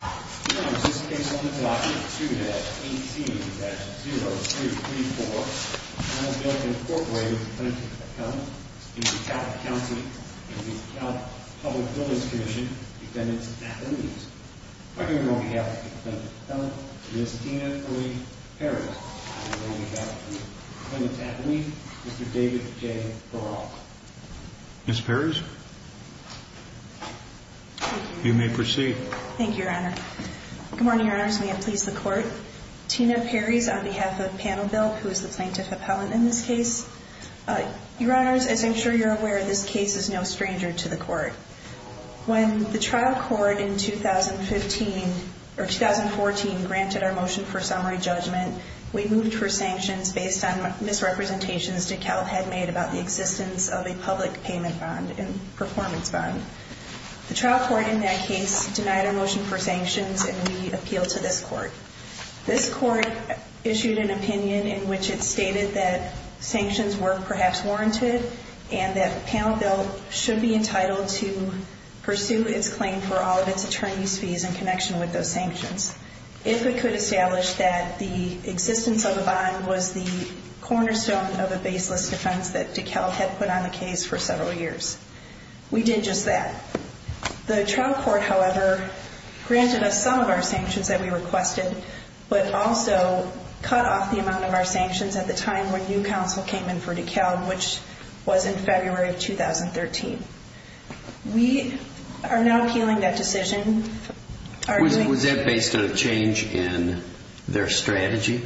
This case on document 2-18-0234 has been incorporated with the defendant's appellant, v. DeKalb County, v. DeKalb Public Buildings Commission, defendant's affidavit. On behalf of the defendant's appellant, Ms. Tina Marie Perez, and on behalf of the defendant's affidavit, Mr. David J. Baral. Ms. Perez, you may proceed. Thank you, Your Honor. Good morning, Your Honors, and may it please the Court. Tina Perez on behalf of Panel Built, who is the plaintiff's appellant in this case. Your Honors, as I'm sure you're aware, this case is no stranger to the Court. When the trial court in 2015, or 2014, granted our motion for summary judgment, we moved for sanctions based on misrepresentations DeKalb had made about the existence of a public payment bond and performance bond. The trial court in that case denied our motion for sanctions, and we appealed to this Court. This Court issued an opinion in which it stated that sanctions were perhaps warranted, and that Panel Built should be entitled to pursue its claim for all of its attorney's fees in connection with those sanctions. If it could establish that the existence of a bond was the cornerstone of a baseless defense that DeKalb had put on the case for several years. We did just that. The trial court, however, granted us some of our sanctions that we requested, but also cut off the amount of our sanctions at the time when new counsel came in for DeKalb, which was in February of 2013. We are now appealing that decision. Was that based on a change in their strategy?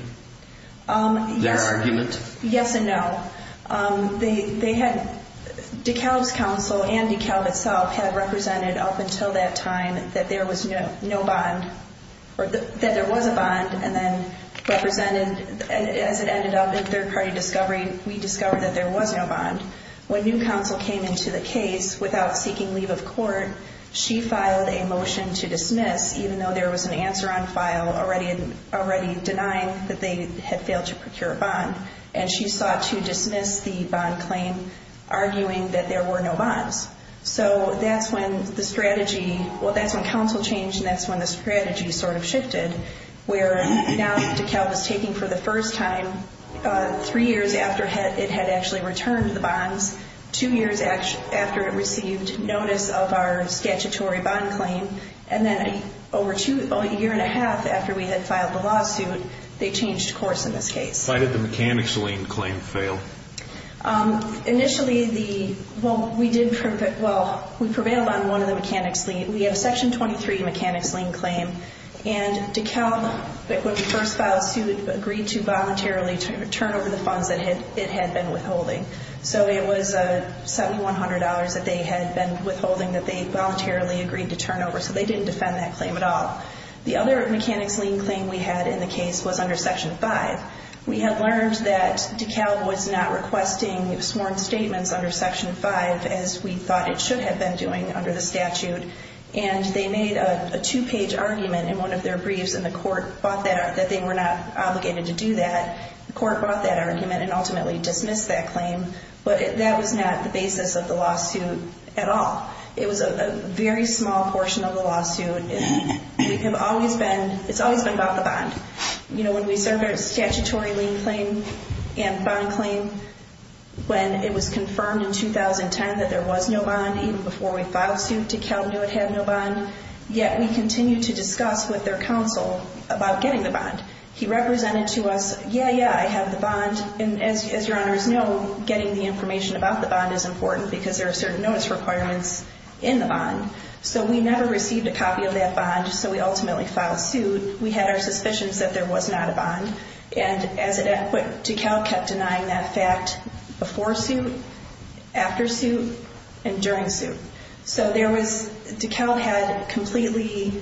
Their argument? Yes and no. DeKalb's counsel and DeKalb itself had represented up until that time that there was no bond, or that there was a bond, and then represented, as it ended up in third-party discovery, we discovered that there was no bond. When new counsel came into the case without seeking leave of court, she filed a motion to dismiss, even though there was an answer on file already denying that they had failed to procure a bond, and she sought to dismiss the bond claim, arguing that there were no bonds. That's when counsel changed, and that's when the strategy sort of shifted, where now DeKalb is taking for the first time, three years after it had actually returned the bonds, two years after it received notice of our statutory bond claim, and then over a year and a half after we had filed the lawsuit, they changed course in this case. Why did the mechanics lien claim fail? Initially, we prevailed on one of the mechanics lien. We had a Section 23 mechanics lien claim, and DeKalb, when we first filed the suit, agreed to voluntarily turn over the funds that it had been withholding. So it was $7,100 that they had been withholding that they voluntarily agreed to turn over, so they didn't defend that claim at all. The other mechanics lien claim we had in the case was under Section 5. We had learned that DeKalb was not requesting sworn statements under Section 5, as we thought it should have been doing under the statute, and they made a two-page argument in one of their briefs, and the court bought that, that they were not obligated to do that. The court bought that argument and ultimately dismissed that claim, but that was not the basis of the lawsuit at all. It was a very small portion of the lawsuit. It's always been about the bond. When we served our statutory lien claim and bond claim, when it was confirmed in 2010 that there was no bond, even before we filed suit, DeKalb knew it had no bond. Yet we continued to discuss with their counsel about getting the bond. He represented to us, yeah, yeah, I have the bond, and as your honors know, getting the information about the bond is important because there are certain notice requirements in the bond. So we never received a copy of that bond, so we ultimately filed suit. We had our suspicions that there was not a bond, and as it happened, DeKalb kept denying that fact before suit, after suit, and during suit. So DeKalb had completely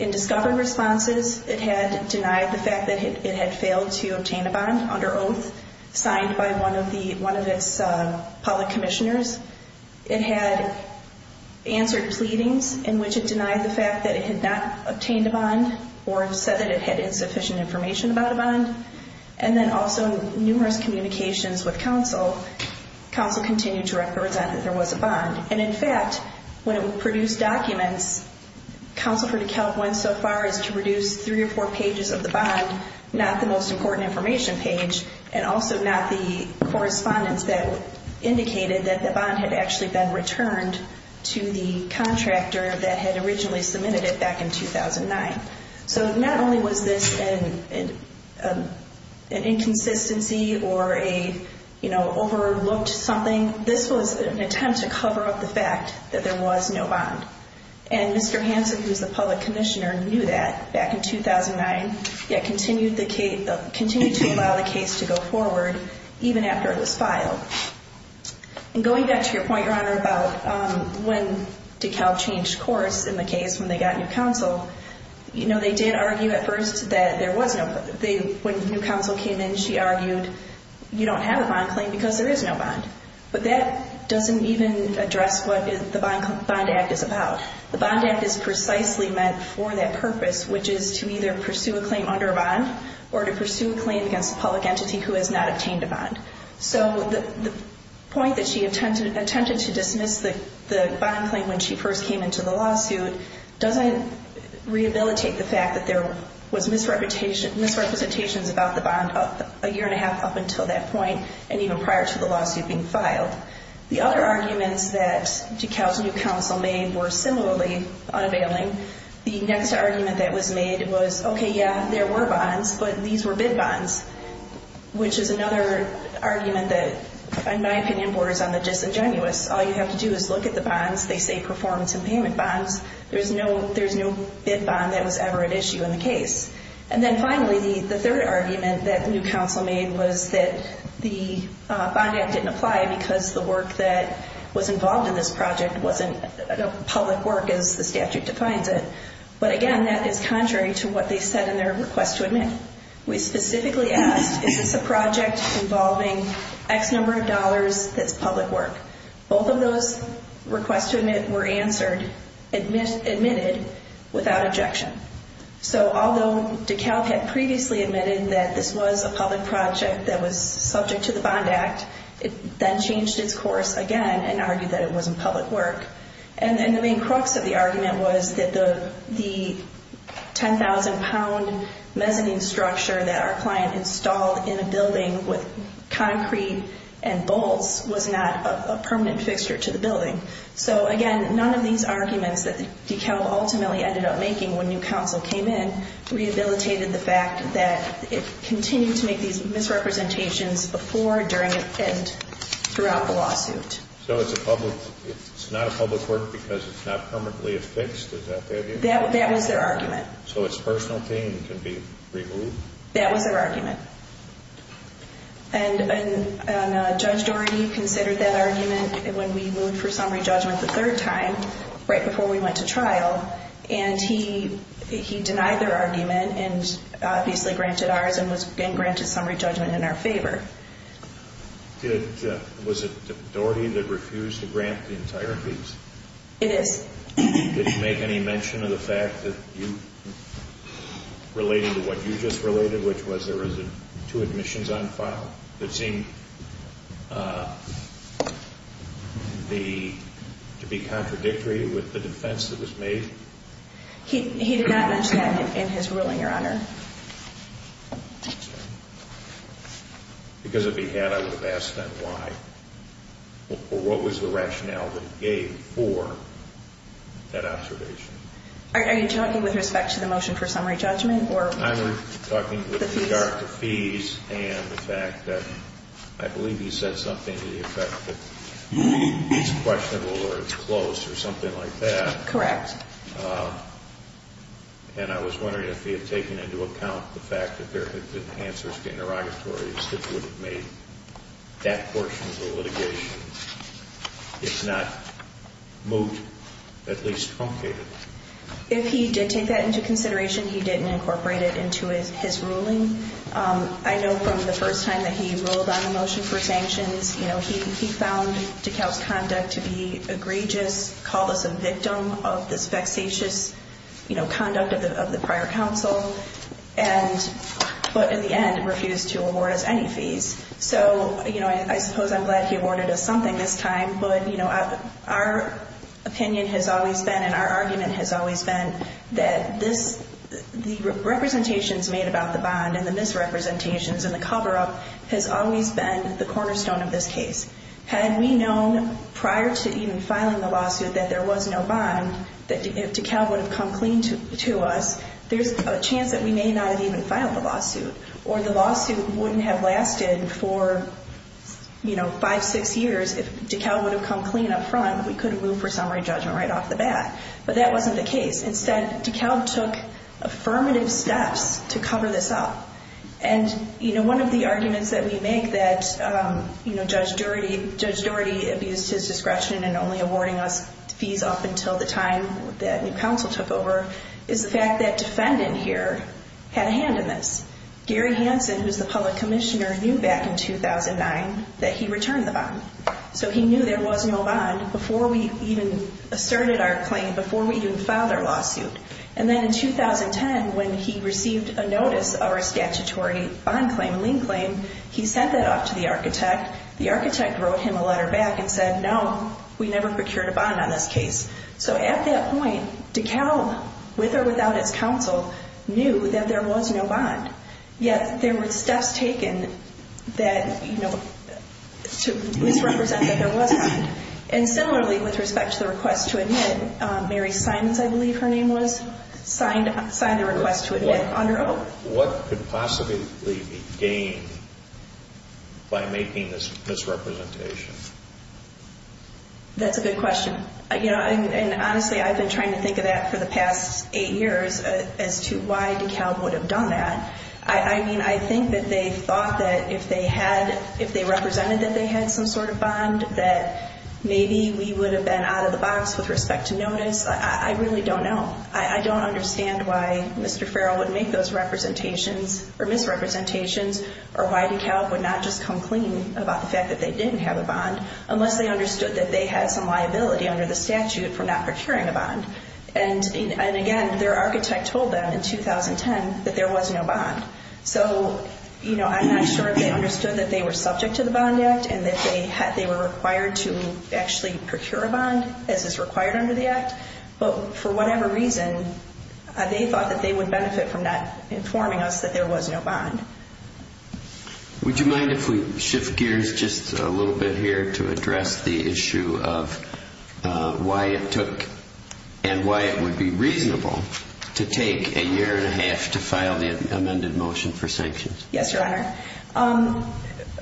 undiscovered responses. It had denied the fact that it had failed to obtain a bond under oath signed by one of its public commissioners. It had answered pleadings in which it denied the fact that it had not obtained a bond or said that it had insufficient information about a bond. And then also in numerous communications with counsel, counsel continued to represent that there was a bond. And in fact, when it produced documents, counsel for DeKalb went so far as to produce three or four pages of the bond, not the most important information page, and also not the correspondence that indicated that the bond had actually been returned to the contractor that had originally submitted it back in 2009. So not only was this an inconsistency or overlooked something, this was an attempt to cover up the fact that there was no bond. And Mr. Hansen, who is the public commissioner, knew that back in 2009, yet continued to allow the case to go forward even after it was filed. And going back to your point, Your Honor, about when DeKalb changed course in the case when they got new counsel, you know, they did argue at first that there was no bond. When new counsel came in, she argued you don't have a bond claim because there is no bond. But that doesn't even address what the Bond Act is about. The Bond Act is precisely meant for that purpose, which is to either pursue a claim under a bond or to pursue a claim against a public entity who has not obtained a bond. So the point that she intended to dismiss the bond claim when she first came into the lawsuit doesn't rehabilitate the fact that there was misrepresentations about the bond a year and a half up until that point and even prior to the lawsuit being filed. The other arguments that DeKalb's new counsel made were similarly unavailing. The next argument that was made was, okay, yeah, there were bonds, but these were bid bonds, which is another argument that, in my opinion, borders on the disingenuous. All you have to do is look at the bonds. They say performance and payment bonds. There's no bid bond that was ever at issue in the case. And then finally, the third argument that new counsel made was that the Bond Act didn't apply because the work that was involved in this project wasn't public work as the statute defines it. But again, that is contrary to what they said in their request to admit. We specifically asked, is this a project involving X number of dollars that's public work? Both of those requests to admit were answered, admitted without objection. So although DeKalb had previously admitted that this was a public project that was subject to the Bond Act, it then changed its course again and argued that it wasn't public work. And the main crux of the argument was that the 10,000-pound mezzanine structure that our client installed in a building with concrete and bolts was not a permanent fixture to the building. So again, none of these arguments that DeKalb ultimately ended up making when new counsel came in rehabilitated the fact that it continued to make these misrepresentations before, during, and throughout the lawsuit. So it's a public – it's not a public work because it's not permanently affixed? Is that their view? That was their argument. So it's a personal thing and can be reviewed? That was their argument. And Judge Doherty considered that argument when we moved for summary judgment the third time, right before we went to trial. And he denied their argument and obviously granted ours and was then granted summary judgment in our favor. Was it Doherty that refused to grant the entire piece? It is. Did he make any mention of the fact that you – related to what you just related, which was there was two admissions on file that seemed to be contradictory with the defense that was made? He did not mention that in his ruling, Your Honor. Thank you. Because if he had, I would have asked then why. Or what was the rationale that he gave for that observation? Are you talking with respect to the motion for summary judgment? I'm talking with regard to fees and the fact that I believe he said something to the effect that it's questionable or it's close or something like that. Correct. And I was wondering if he had taken into account the fact that there had been answers to interrogatories that would have made that portion of the litigation, if not moved, at least truncated. If he did take that into consideration, he didn't incorporate it into his ruling. I know from the first time that he ruled on the motion for sanctions, he found DeKalb's conduct to be egregious, called us a victim of this vexatious conduct of the prior counsel, but in the end refused to award us any fees. So I suppose I'm glad he awarded us something this time, but our opinion has always been and our argument has always been that the representations made about the bond and the misrepresentations and the cover-up has always been the cornerstone of this case. Had we known prior to even filing the lawsuit that there was no bond, that DeKalb would have come clean to us, there's a chance that we may not have even filed the lawsuit or the lawsuit wouldn't have lasted for five, six years. If DeKalb would have come clean up front, we could have moved for summary judgment right off the bat, but that wasn't the case. Instead, DeKalb took affirmative steps to cover this up. One of the arguments that we make that Judge Doherty abused his discretion in only awarding us fees up until the time that new counsel took over is the fact that defendant here had a hand in this. Gary Hansen, who's the public commissioner, knew back in 2009 that he returned the bond, so he knew there was no bond before we even asserted our claim, before we even filed our lawsuit. And then in 2010, when he received a notice of our statutory bond claim, lien claim, he sent that off to the architect. The architect wrote him a letter back and said, no, we never procured a bond on this case. So at that point, DeKalb, with or without his counsel, knew that there was no bond, yet there were steps taken that, you know, to misrepresent that there was bond. And similarly, with respect to the request to admit, Mary Simons, I believe her name was, signed the request to admit under Oak. What could possibly be gained by making this misrepresentation? That's a good question. You know, and honestly, I've been trying to think of that for the past eight years as to why DeKalb would have done that. I mean, I think that they thought that if they had, if they represented that they had some sort of bond, that maybe we would have been out of the box with respect to notice. I really don't know. I don't understand why Mr. Farrell would make those representations, or misrepresentations, or why DeKalb would not just come clean about the fact that they didn't have a bond, unless they understood that they had some liability under the statute for not procuring a bond. And again, their architect told them in 2010 that there was no bond. So, you know, I'm not sure if they understood that they were subject to the Bond Act and that they were required to actually procure a bond, as is required under the Act. But for whatever reason, they thought that they would benefit from not informing us that there was no bond. Would you mind if we shift gears just a little bit here to address the issue of why it took and why it would be reasonable to take a year and a half to file the amended motion for sanctions? Yes, Your Honor.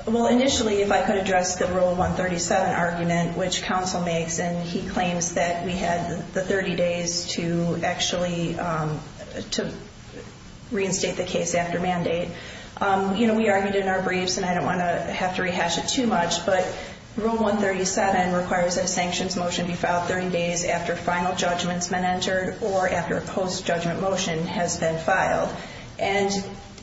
Well, initially, if I could address the Rule 137 argument, which counsel makes, and he claims that we had the 30 days to actually reinstate the case after mandate. You know, we argued in our briefs, and I don't want to have to rehash it too much, but Rule 137 requires that a sanctions motion be filed 30 days after final judgments have been entered or after a post-judgment motion has been filed. And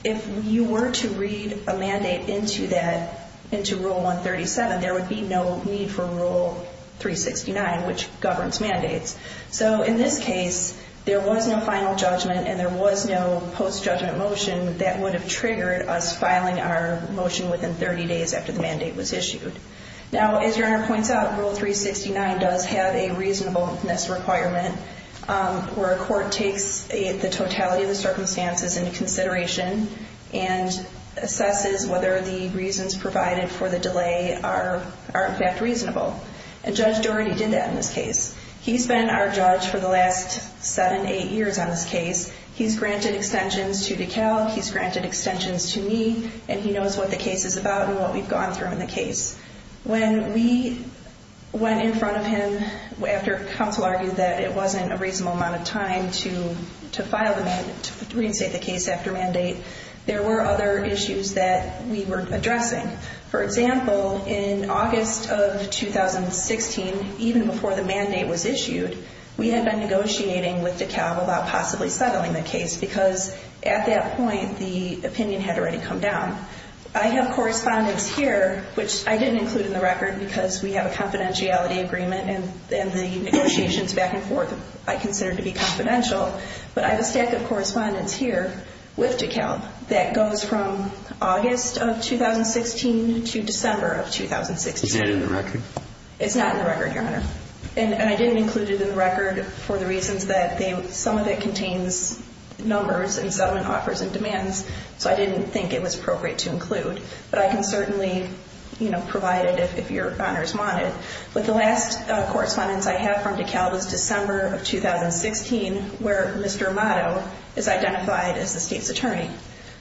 if you were to read a mandate into that, into Rule 137, there would be no need for Rule 369, which governs mandates. So in this case, there was no final judgment and there was no post-judgment motion that would have triggered us filing our motion within 30 days after the mandate was issued. Now, as Your Honor points out, Rule 369 does have a reasonableness requirement where a court takes the totality of the circumstances into consideration and assesses whether the reasons provided for the delay are in fact reasonable. And Judge Doherty did that in this case. He's been our judge for the last seven, eight years on this case. He's granted extensions to DeKalb, he's granted extensions to me, and he knows what the case is about and what we've gone through in the case. When we went in front of him after counsel argued that it wasn't a reasonable amount of time to file the mandate, to reinstate the case after mandate, there were other issues that we were addressing. For example, in August of 2016, even before the mandate was issued, we had been negotiating with DeKalb about possibly settling the case because at that point, the opinion had already come down. I have correspondence here, which I didn't include in the record because we have a confidentiality agreement and the negotiations back and forth I consider to be confidential. But I have a stack of correspondence here with DeKalb that goes from August of 2016 to December of 2016. Is that in the record? It's not in the record, Your Honor. And I didn't include it in the record for the reasons that some of it contains numbers and settlement offers and demands, so I didn't think it was appropriate to include. But I can certainly provide it if Your Honors want it. But the last correspondence I have from DeKalb is December of 2016, where Mr. Amato is identified as the state's attorney.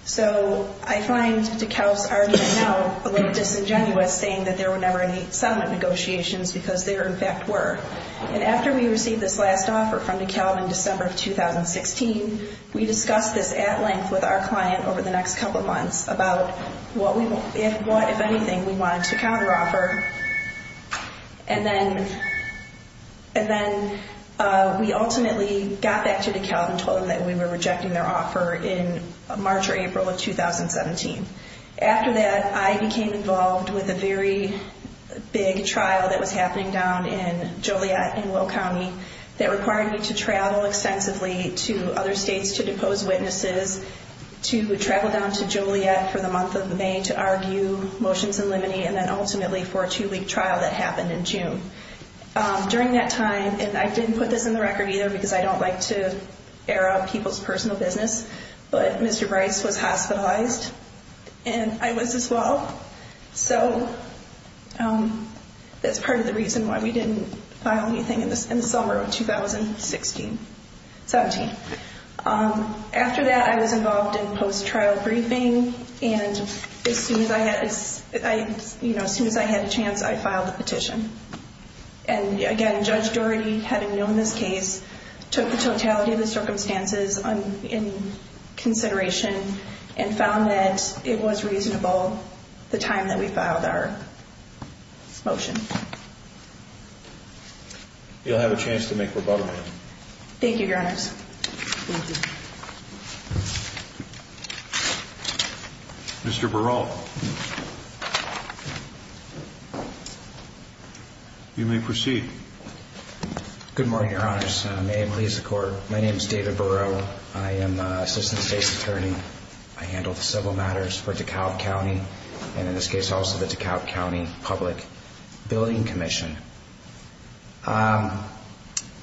So I find DeKalb's argument now a little disingenuous, saying that there were never any settlement negotiations because there, in fact, were. And after we received this last offer from DeKalb in December of 2016, we discussed this at length with our client over the next couple of months about what, if anything, we wanted to counteroffer. And then we ultimately got back to DeKalb and told them that we were rejecting their offer in March or April of 2017. After that, I became involved with a very big trial that was happening down in Joliet in Will County that required me to travel extensively to other states to depose witnesses, to travel down to Joliet for the month of May to argue motions in limine and then ultimately for a two-week trial that happened in June. During that time, and I didn't put this in the record either because I don't like to air out people's personal business, but Mr. Bryce was hospitalized and I was as well. So that's part of the reason why we didn't file anything in the summer of 2017. After that, I was involved in post-trial briefing and as soon as I had a chance, I filed a petition. And again, Judge Doherty, having known this case, took the totality of the circumstances in consideration and found that it was reasonable, the time that we filed our motion. You'll have a chance to make rebuttal. Thank you, Your Honors. Thank you. Mr. Barol. You may proceed. Good morning, Your Honors. May it please the Court. My name is David Barol. I am Assistant State's Attorney. I handle the civil matters for DeKalb County and in this case also the DeKalb County Public Building Commission. I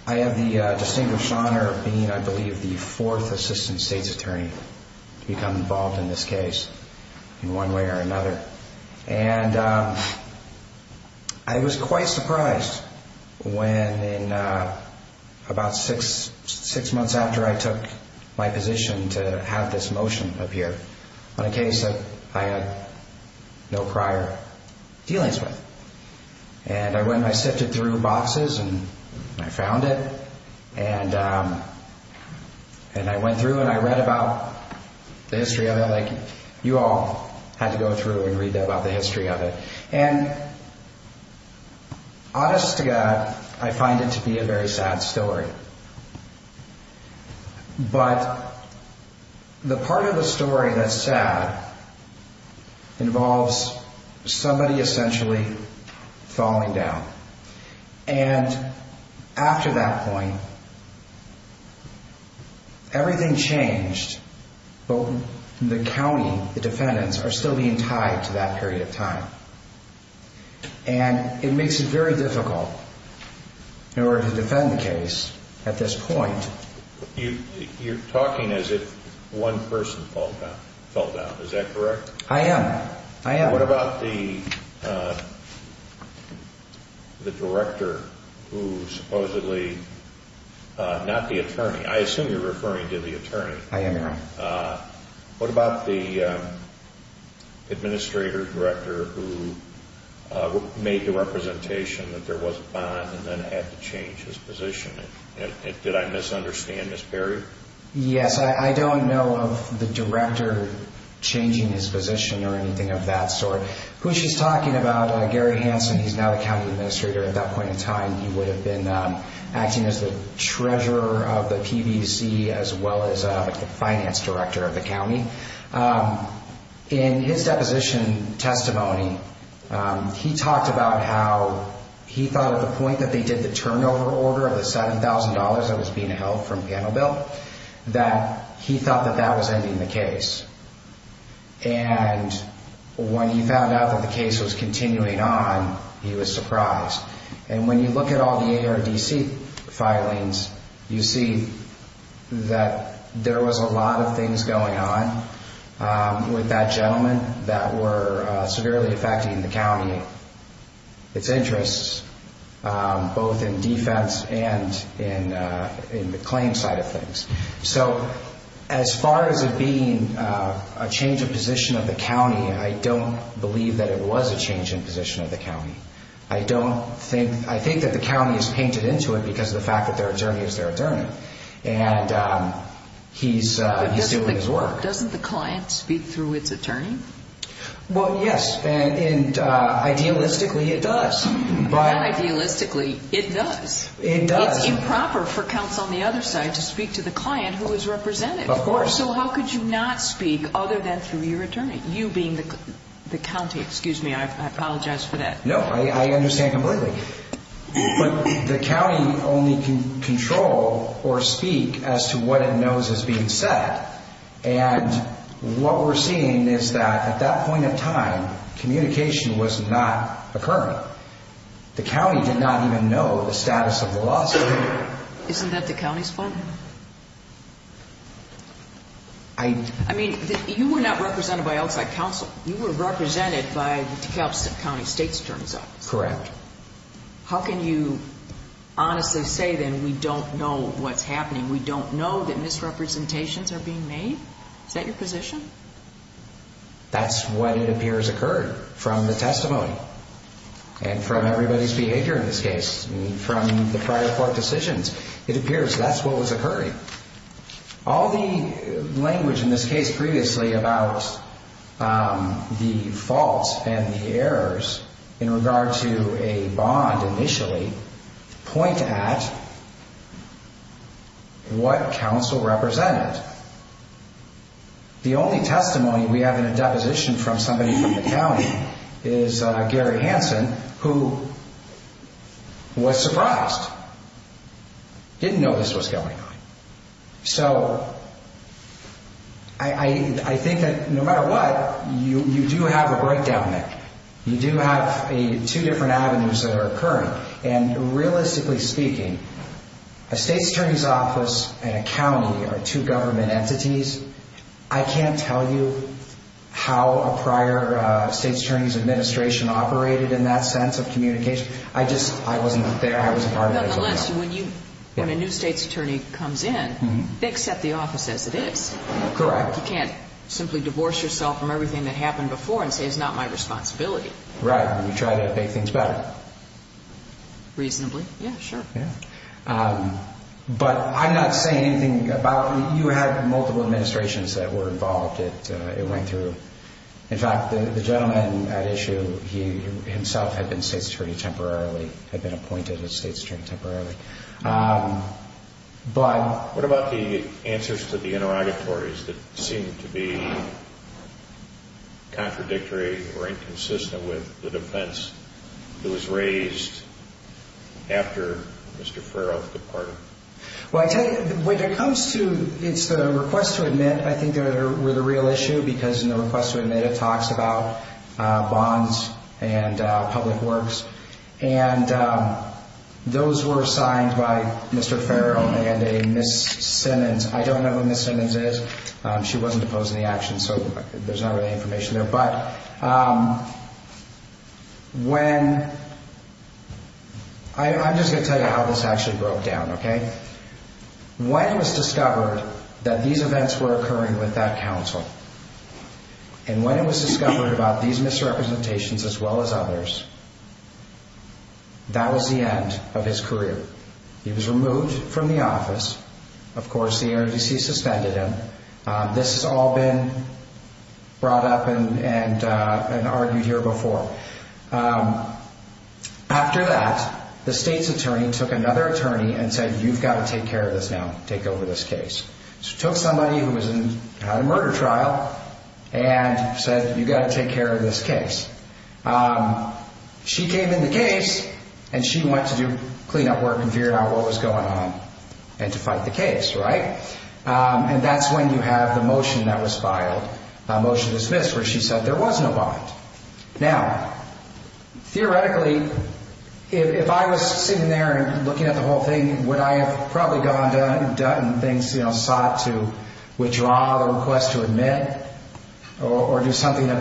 have the distinguished honor of being, I believe, the fourth Assistant State's Attorney to become involved in this case in one way or another. And I was quite surprised when about six months after I took my position to have this motion appear on a case that I had no prior dealings with. And I went and I sifted through boxes and I found it and I went through and I read about the history of it like you all had to go through and read about the history of it. And honest to God, I find it to be a very sad story. But the part of the story that's sad involves somebody essentially falling down. And after that point, everything changed, but the county, the defendants, are still being tied to that period of time. And it makes it very difficult in order to defend the case at this point. You're talking as if one person fell down, is that correct? I am. I am. What about the director who supposedly, not the attorney, I assume you're referring to the attorney. I am, Your Honor. What about the administrator, director who made the representation that there was a bond and then had to change his position? Did I misunderstand, Ms. Perry? Yes, I don't know of the director changing his position or anything of that sort. Who she's talking about, Gary Hansen, he's now the county administrator. At that point in time, he would have been acting as the treasurer of the PBC as well as the finance director of the county. In his deposition testimony, he talked about how he thought at the point that they did the turnover order of the $7,000 that was being held from Panoville, that he thought that that was ending the case. And when he found out that the case was continuing on, he was surprised. And when you look at all the ARDC filings, you see that there was a lot of things going on with that gentleman that were severely affecting the county, its interests, both in defense and in the claim side of things. So as far as it being a change of position of the county, I don't believe that it was a change in position of the county. I think that the county has painted into it because of the fact that their attorney is their attorney. And he's doing his work. But doesn't the client speak through its attorney? Well, yes. And idealistically, it does. Not idealistically. It does. It does. It's improper for counsel on the other side to speak to the client who is represented. Of course. So how could you not speak other than through your attorney, you being the county? Excuse me, I apologize for that. No, I understand completely. But the county only can control or speak as to what it knows is being said. And what we're seeing is that at that point in time, communication was not occurring. The county did not even know the status of the lawsuit. Isn't that the county's fault? I mean, you were not represented by outside counsel. You were represented by the DeKalb County State's attorneys office. Correct. How can you honestly say, then, we don't know what's happening? We don't know that misrepresentations are being made? Is that your position? That's what it appears occurred from the testimony. And from everybody's behavior in this case. And from the prior court decisions. It appears that's what was occurring. All the language in this case previously about the faults and the errors in regard to a bond initially, point at what counsel represented. The only testimony we have in a deposition from somebody from the county is Gary Hansen, who was surprised. Didn't know this was going on. So, I think that no matter what, you do have a breakdown there. You do have two different avenues that are occurring. And realistically speaking, a state's attorney's office and a county are two government entities. I can't tell you how a prior state's attorney's administration operated in that sense of communication. I just wasn't there. I wasn't part of it. Nonetheless, when a new state's attorney comes in, they accept the office as it is. Correct. You can't simply divorce yourself from everything that happened before and say it's not my responsibility. Right. You try to make things better. Reasonably. Yeah, sure. Yeah. But I'm not saying anything about, you had multiple administrations that were involved it went through. In fact, the gentleman at issue, he himself had been state's attorney temporarily, had been appointed a state's attorney temporarily. What about the answers to the interrogatories that seemed to be contradictory or inconsistent with the defense that was raised after Mr. Freroth departed? Well, I tell you, when it comes to, it's the request to admit, I think they were the real issue because in the request to admit it talks about bonds and public works. And those were signed by Mr. Freroth and a Ms. Simmons. I don't know who Ms. Simmons is. She wasn't opposed to the action, so there's not really any information there. But when, I'm just going to tell you how this actually broke down, okay? When it was discovered that these events were occurring with that counsel, and when it was discovered about these misrepresentations as well as others, that was the end of his career. He was removed from the office. Of course, the NRC suspended him. This has all been brought up and argued here before. After that, the state's attorney took another attorney and said, you've got to take care of this now, take over this case. She took somebody who had a murder trial and said, you've got to take care of this case. She came in the case, and she went to do cleanup work and figured out what was going on and to fight the case, right? And that's when you have the motion that was filed, motion dismissed, where she said there was no bond. Now, theoretically, if I was sitting there and looking at the whole thing, would I have probably gone and done things, you know, sought to withdraw the request to admit or do something of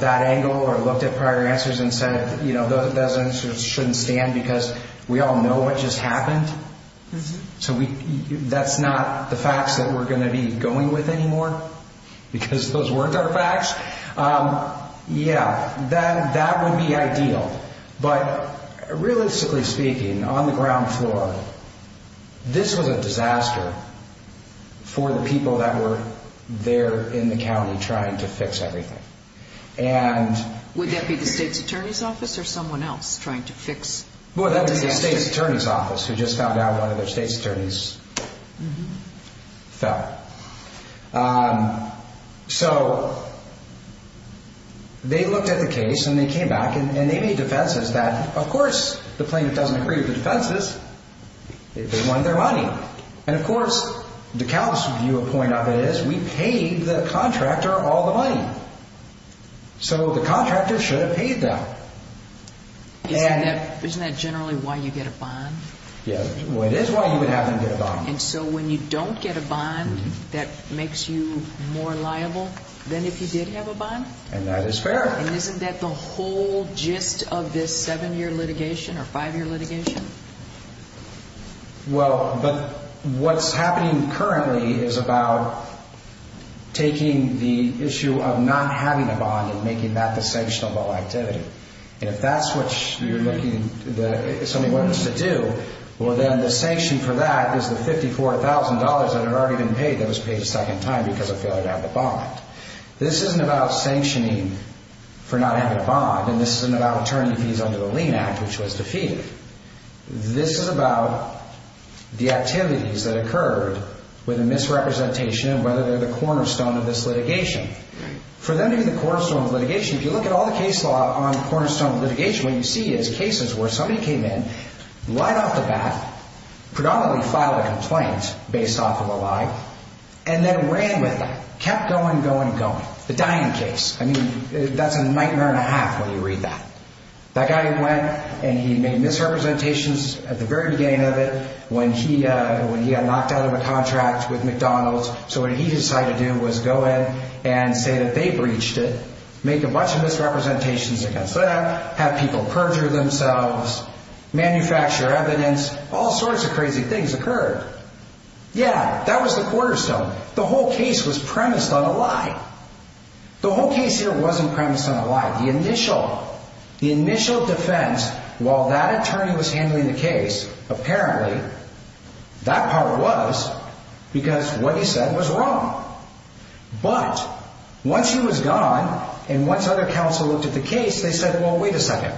that angle or looked at prior answers and said, you know, those answers shouldn't stand because we all know what just happened. So that's not the facts that we're going to be going with anymore because those weren't our facts. Yeah, that would be ideal. But realistically speaking, on the ground floor, this was a disaster for the people that were there in the county trying to fix everything. Would that be the state's attorney's office or someone else trying to fix the disaster? Well, that would be the state's attorney's office who just found out one of their state's attorneys fell. So they looked at the case and they came back and they made defenses that, of course, the plaintiff doesn't agree with the defenses. They want their money. And, of course, DeKalb's view or point of it is we paid the contractor all the money. So the contractor should have paid them. Isn't that generally why you get a bond? Yeah, well, it is why you would have them get a bond. And so when you don't get a bond, that makes you more liable than if you did have a bond? And that is fair. And isn't that the whole gist of this seven-year litigation or five-year litigation? Well, but what's happening currently is about taking the issue of not having a bond and making that the sanctionable activity. And if that's what you're looking to do, well, then the sanction for that is the $54,000 that had already been paid that was paid a second time because of failure to have the bond. This isn't about sanctioning for not having a bond. And this isn't about returning the fees under the lien act, which was defeated. This is about the activities that occurred with a misrepresentation of whether they're the cornerstone of this litigation. For them to be the cornerstone of litigation, if you look at all the case law on the cornerstone of litigation, what you see is cases where somebody came in, lied off the bat, predominantly filed a complaint based off of a lie, and then ran with it, kept going, going, going. The Diane case. I mean, that's a nightmare and a half when you read that. That guy went and he made misrepresentations at the very beginning of it when he got knocked out of a contract with McDonald's. So what he decided to do was go in and say that they breached it, make a bunch of misrepresentations against that, have people perjure themselves, manufacture evidence. All sorts of crazy things occurred. Yeah, that was the cornerstone. The whole case was premised on a lie. The whole case here wasn't premised on a lie. The initial defense, while that attorney was handling the case, apparently that part was because what he said was wrong. But once he was gone and once other counsel looked at the case, they said, well, wait a second.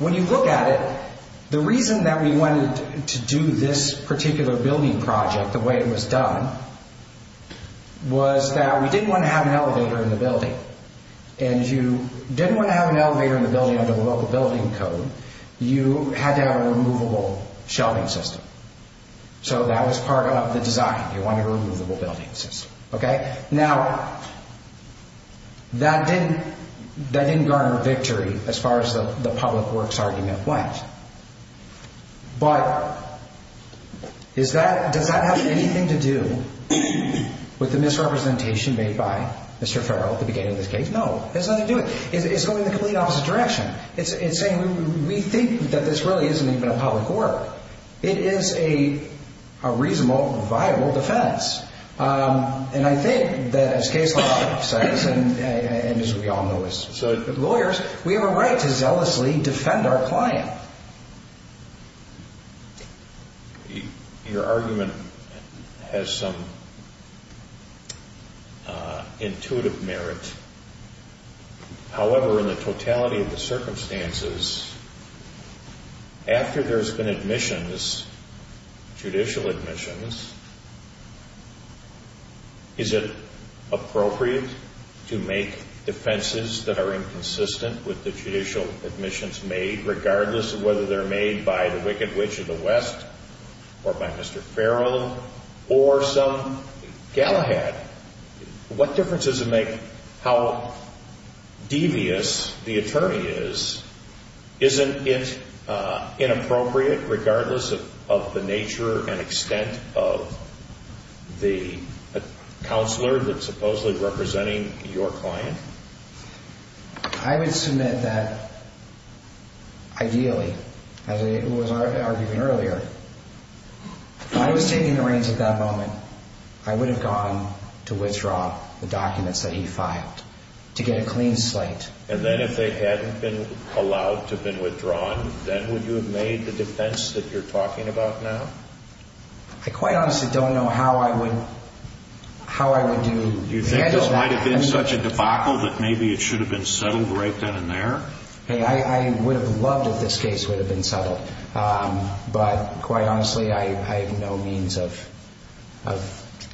When you look at it, the reason that we wanted to do this particular building project the way it was done was that we didn't want to have an elevator in the building. And you didn't want to have an elevator in the building under the local building code. You had to have a removable shelving system. So that was part of the design. You wanted a removable building system. Now, that didn't garner victory as far as the public works argument went. But does that have anything to do with the misrepresentation made by Mr. Farrell at the beginning of this case? No, it has nothing to do with it. It's going in the complete opposite direction. It's saying we think that this really isn't even a public work. It is a reasonable, viable defense. And I think that as case law says, and as we all know as lawyers, we have a right to zealously defend our client. Your argument has some intuitive merit. However, in the totality of the circumstances, after there's been admissions, judicial admissions, is it appropriate to make defenses that are inconsistent with the judicial admissions made, regardless of whether they're made by the Wicked Witch of the West or by Mr. Farrell or some Galahad? What difference does it make how devious the attorney is? Isn't it inappropriate, regardless of the nature and extent of the counselor that's supposedly representing your client? I would submit that ideally, as was argued earlier, if I was taking the reins at that moment, I would have gone to withdraw the documents that he filed to get a clean slate. And then if they hadn't been allowed to have been withdrawn, then would you have made the defense that you're talking about now? I quite honestly don't know how I would do that. You think this might have been such a debacle that maybe it should have been settled right then and there? I would have loved if this case would have been settled. But quite honestly, I have no means of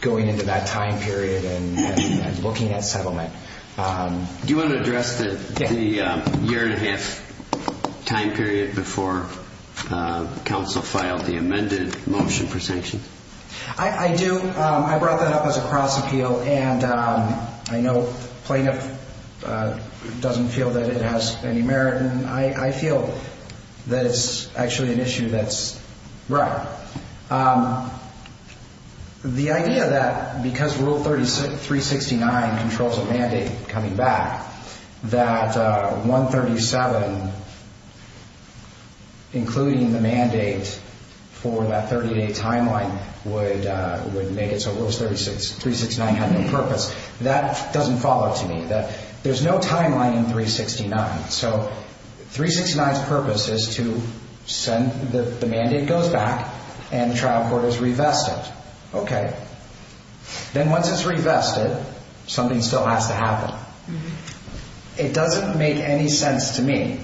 going into that time period and looking at settlement. Do you want to address the year-and-a-half time period before counsel filed the amended motion for sanction? I do. I brought that up as a cross-appeal. And I know plaintiff doesn't feel that it has any merit, and I feel that it's actually an issue that's right. The idea that because Rule 369 controls a mandate coming back, that 137, including the mandate for that 30-day timeline, would make it so Rule 369 had no purpose, that doesn't follow to me. There's no timeline in 369. So 369's purpose is to send the mandate goes back and the trial court is revested. Okay. Then once it's revested, something still has to happen. It doesn't make any sense to me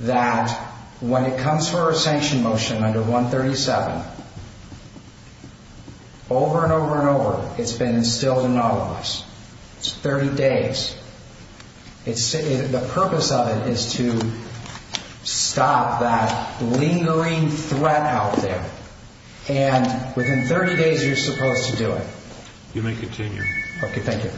that when it comes for a sanction motion under 137, over and over and over, it's been instilled in all of us. It's 30 days. The purpose of it is to stop that lingering threat out there. And within 30 days, you're supposed to do it. You may continue. Okay, thank you.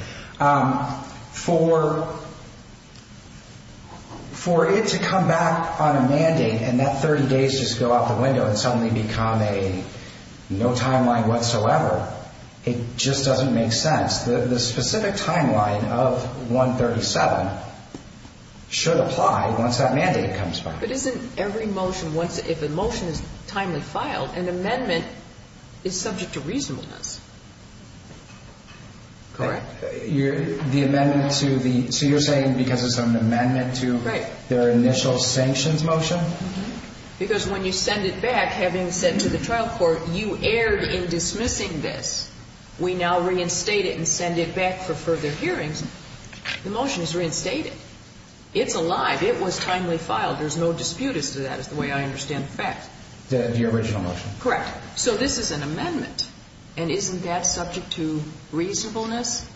For it to come back on a mandate and that 30 days just go out the window and suddenly become a no timeline whatsoever, it just doesn't make sense. The specific timeline of 137 should apply once that mandate comes back. But isn't every motion, if a motion is timely filed, an amendment is subject to reasonableness, correct? The amendment to the, so you're saying because it's an amendment to their initial sanctions motion? Because when you send it back, having said to the trial court, you erred in dismissing this. We now reinstate it and send it back for further hearings. The motion is reinstated. It's alive. It was timely filed. There's no dispute as to that, is the way I understand the fact. The original motion. Correct. So this is an amendment. And isn't that subject to reasonableness?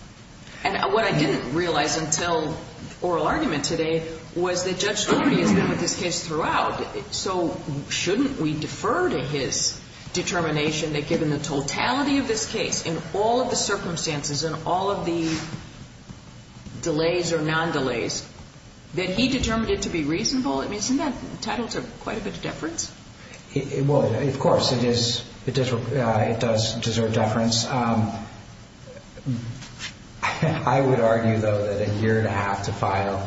And what I didn't realize until oral argument today was that Judge Story has been with this case throughout. So shouldn't we defer to his determination that given the totality of this case, in all of the circumstances, in all of the delays or non-delays, that he determined it to be reasonable? I mean, isn't that entitled to quite a bit of deference? Well, of course, it does deserve deference. I would argue, though, that a year and a half to file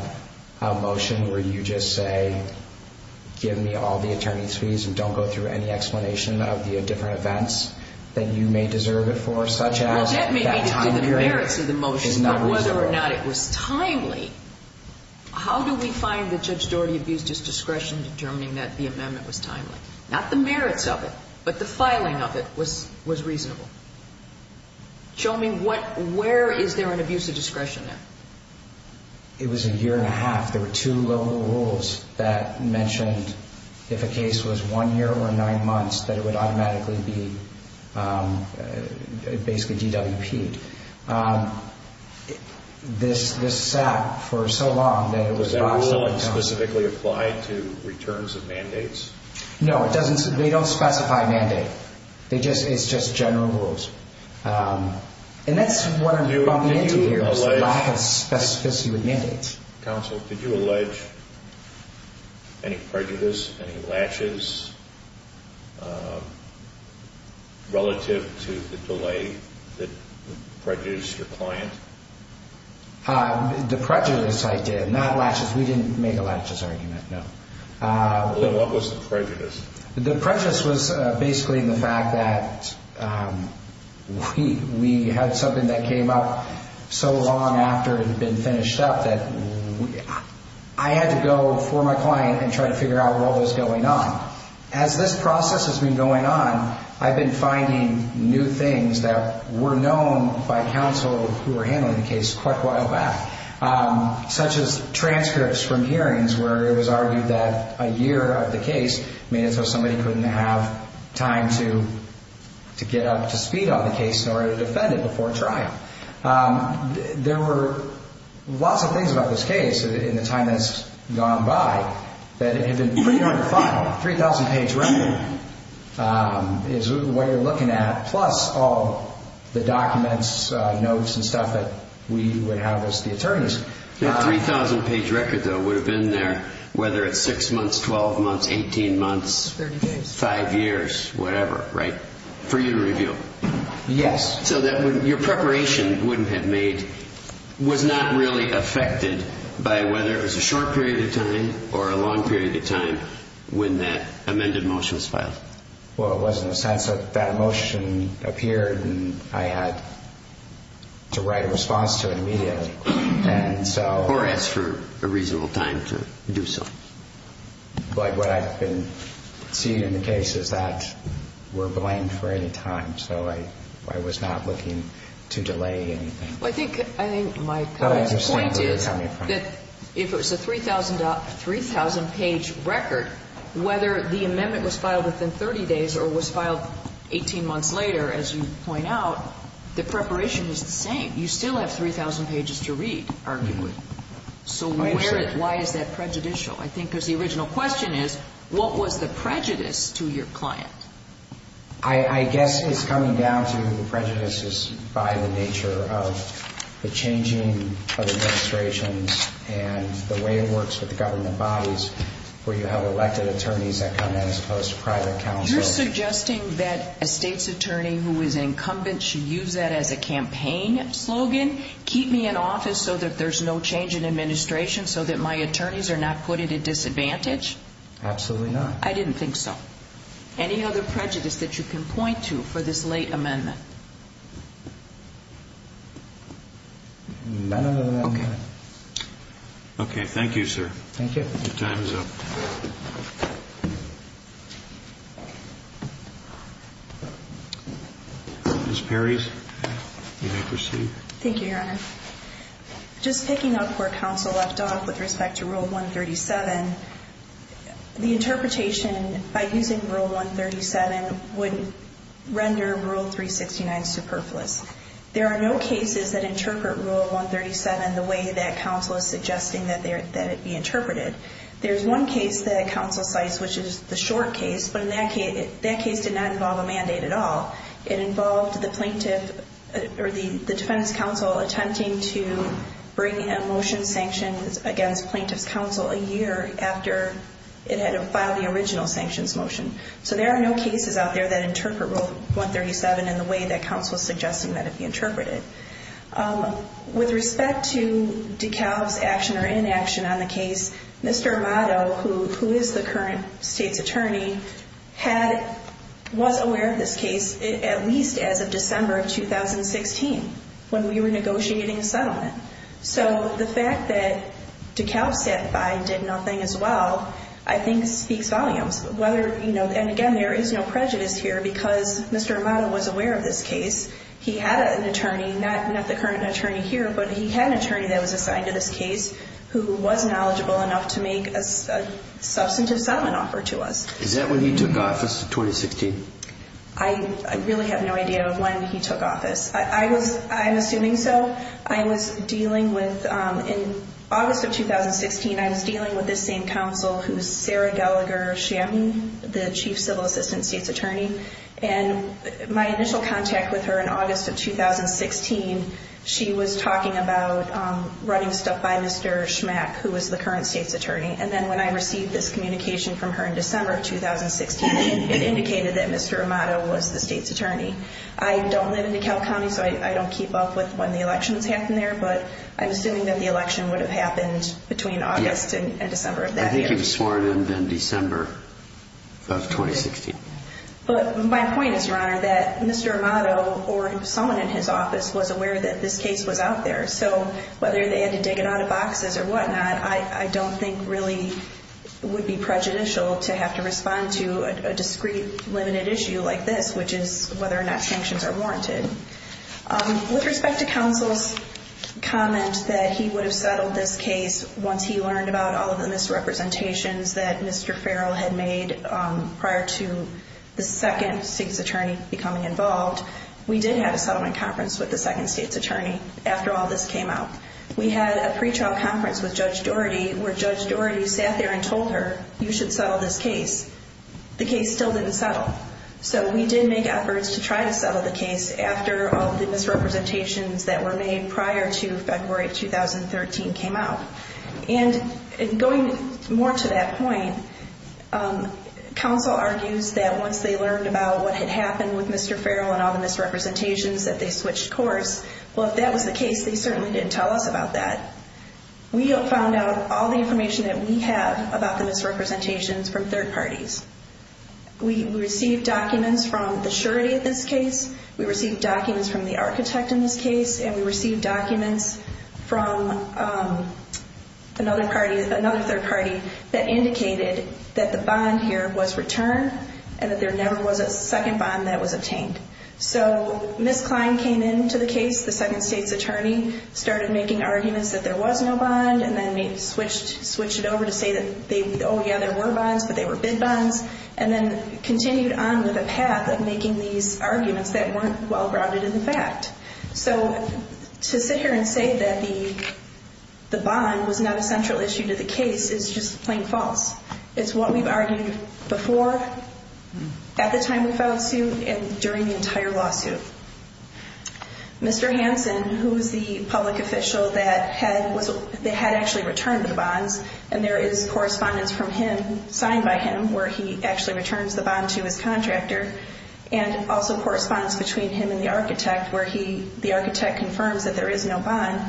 a motion where you just say give me all the attorney's fees and don't go through any explanation of the different events that you may deserve it for, such as that time period. Well, that may be due to the merits of the motion, but whether or not it was timely, how do we find that Judge Doherty abused his discretion in determining that the amendment was timely? Not the merits of it, but the filing of it was reasonable. Show me where is there an abuse of discretion there? It was a year and a half. There were two local rules that mentioned if a case was one year or nine months, that it would automatically be basically DWP'd. This sat for so long that it was boxed up. Was that rule specifically applied to returns of mandates? No, they don't specify mandate. It's just general rules. And that's what I'm bumping into here is the lack of specificity with mandates. Counsel, did you allege any prejudice, any latches relative to the delay that prejudiced your client? The prejudice I did, not latches. We didn't make a latches argument, no. What was the prejudice? The prejudice was basically the fact that we had something that came up so long after it had been finished up that I had to go for my client and try to figure out what was going on. As this process has been going on, I've been finding new things that were known by counsel who were handling the case quite a while back, such as transcripts from hearings where it was argued that a year of the case made it so somebody couldn't have time to get up to speed on the case in order to defend it before trial. There were lots of things about this case in the time that's gone by that have been pretty hard to find. A 3,000-page record is what you're looking at, plus all the documents, notes, and stuff that we would have as the attorneys. That 3,000-page record, though, would have been there whether it's 6 months, 12 months, 18 months, 5 years, whatever, right? For you to review. Yes. So your preparation was not really affected by whether it was a short period of time or a long period of time when that amended motion was filed. Well, it was in the sense that that motion appeared, and I had to write a response to it immediately. And so... Or ask for a reasonable time to do so. But what I've been seeing in the case is that we're blamed for any time. So I was not looking to delay anything. Well, I think my point is that if it was a 3,000-page record, whether the amendment was filed within 30 days or was filed 18 months later, as you point out, the preparation is the same. You still have 3,000 pages to read, arguably. So why is that prejudicial? I think because the original question is, what was the prejudice to your client? I guess it's coming down to the prejudices by the nature of the changing of administrations and the way it works with the government bodies where you have elected attorneys that come in as opposed to private counsel. You're suggesting that a state's attorney who is incumbent should use that as a campaign slogan, keep me in office so that there's no change in administration, so that my attorneys are not put at a disadvantage? Absolutely not. I didn't think so. Any other prejudice that you can point to for this late amendment? No, no, no, no. Okay. Okay. Thank you, sir. Thank you. Your time is up. Ms. Perry, you may proceed. Thank you, Your Honor. Just picking up where counsel left off with respect to Rule 137, the interpretation by using Rule 137 would render Rule 369 superfluous. There are no cases that interpret Rule 137 the way that counsel is suggesting that it be interpreted. There's one case that counsel cites, which is the short case, but that case did not involve a mandate at all. It involved the plaintiff, or the defendant's counsel, attempting to bring a motion sanctioned against plaintiff's counsel a year after it had filed the original sanctions motion. So there are no cases out there that interpret Rule 137 in the way that counsel is suggesting that it be interpreted. With respect to DeKalb's action or inaction on the case, Mr. Amato, who is the current state's attorney, was aware of this case at least as of December of 2016 when we were negotiating a settlement. So the fact that DeKalb sat by and did nothing as well I think speaks volumes. And again, there is no prejudice here because Mr. Amato was aware of this case. He had an attorney, not the current attorney here, but he had an attorney that was assigned to this case who was knowledgeable enough to make a substantive settlement offer to us. Is that when he took office in 2016? I really have no idea of when he took office. I'm assuming so. I was dealing with, in August of 2016, I was dealing with this same counsel who is Sarah Gallagher-Shanton, the chief civil assistant state's attorney. And my initial contact with her in August of 2016, she was talking about running stuff by Mr. Schmack, who was the current state's attorney. And then when I received this communication from her in December of 2016, it indicated that Mr. Amato was the state's attorney. I don't live in DeKalb County, so I don't keep up with when the elections happen there, but I'm assuming that the election would have happened between August and December of that year. I think he was sworn in in December of 2016. But my point is, Your Honor, that Mr. Amato or someone in his office was aware that this case was out there. So whether they had to dig it out of boxes or whatnot, I don't think really would be prejudicial to have to respond to a discrete, limited issue like this, which is whether or not sanctions are warranted. With respect to counsel's comment that he would have settled this case once he learned about all of the misrepresentations that Mr. Farrell had made prior to the second state's attorney becoming involved, we did have a settlement conference with the second state's attorney after all this came out. We had a pretrial conference with Judge Doherty where Judge Doherty sat there and told her, you should settle this case. The case still didn't settle. So we did make efforts to try to settle the case after all of the misrepresentations that were made prior to February 2013 came out. And going more to that point, counsel argues that once they learned about what had happened with Mr. Farrell and all the misrepresentations, that they switched course. Well, if that was the case, they certainly didn't tell us about that. We found out all the information that we have about the misrepresentations from third parties. We received documents from the surety of this case. We received documents from the architect in this case. And we received documents from another third party that indicated that the bond here was returned and that there never was a second bond that was obtained. So Ms. Klein came into the case. The second state's attorney started making arguments that there was no bond and then switched it over to say that, oh, yeah, there were bonds, but they were bid bonds. And then continued on with a path of making these arguments that weren't well-grounded in the fact. So to sit here and say that the bond was not a central issue to the case is just plain false. It's what we've argued before, at the time we filed the suit, and during the entire lawsuit. Mr. Hansen, who's the public official that had actually returned the bonds, and there is correspondence from him, signed by him, where he actually returns the bond to his contractor, and also correspondence between him and the architect, where the architect confirms that there is no bond,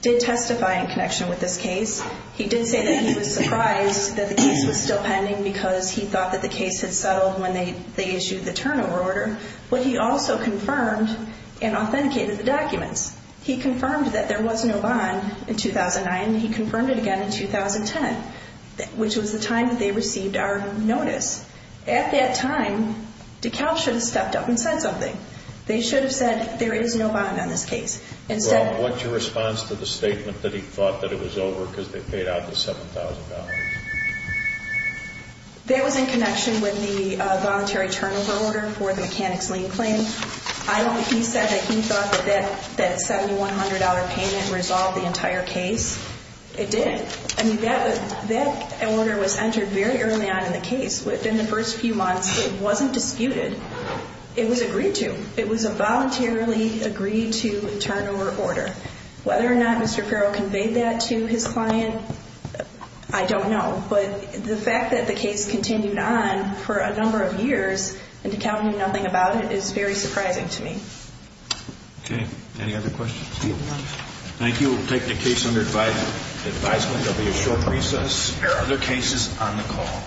did testify in connection with this case. He did say that he was surprised that the case was still pending because he thought that the case had settled when they issued the turnover order. But he also confirmed and authenticated the documents. He confirmed that there was no bond in 2009, and he confirmed it again in 2010, which was the time that they received our notice. At that time, DeKalb should have stepped up and said something. They should have said, there is no bond on this case. Well, what's your response to the statement that he thought that it was over because they paid out the $7,000? That was in connection with the voluntary turnover order for the mechanics lien claim. He said that he thought that that $7,100 payment resolved the entire case. It did. I mean, that order was entered very early on in the case. Within the first few months, it wasn't disputed. It was agreed to. It was a voluntarily agreed to turnover order. Whether or not Mr. Farrell conveyed that to his client, I don't know. But the fact that the case continued on for a number of years, and DeKalb knew nothing about it, is very surprising to me. Okay. Any other questions? Thank you. We'll take the case under advisement. There will be a short recess. There are other cases on the call.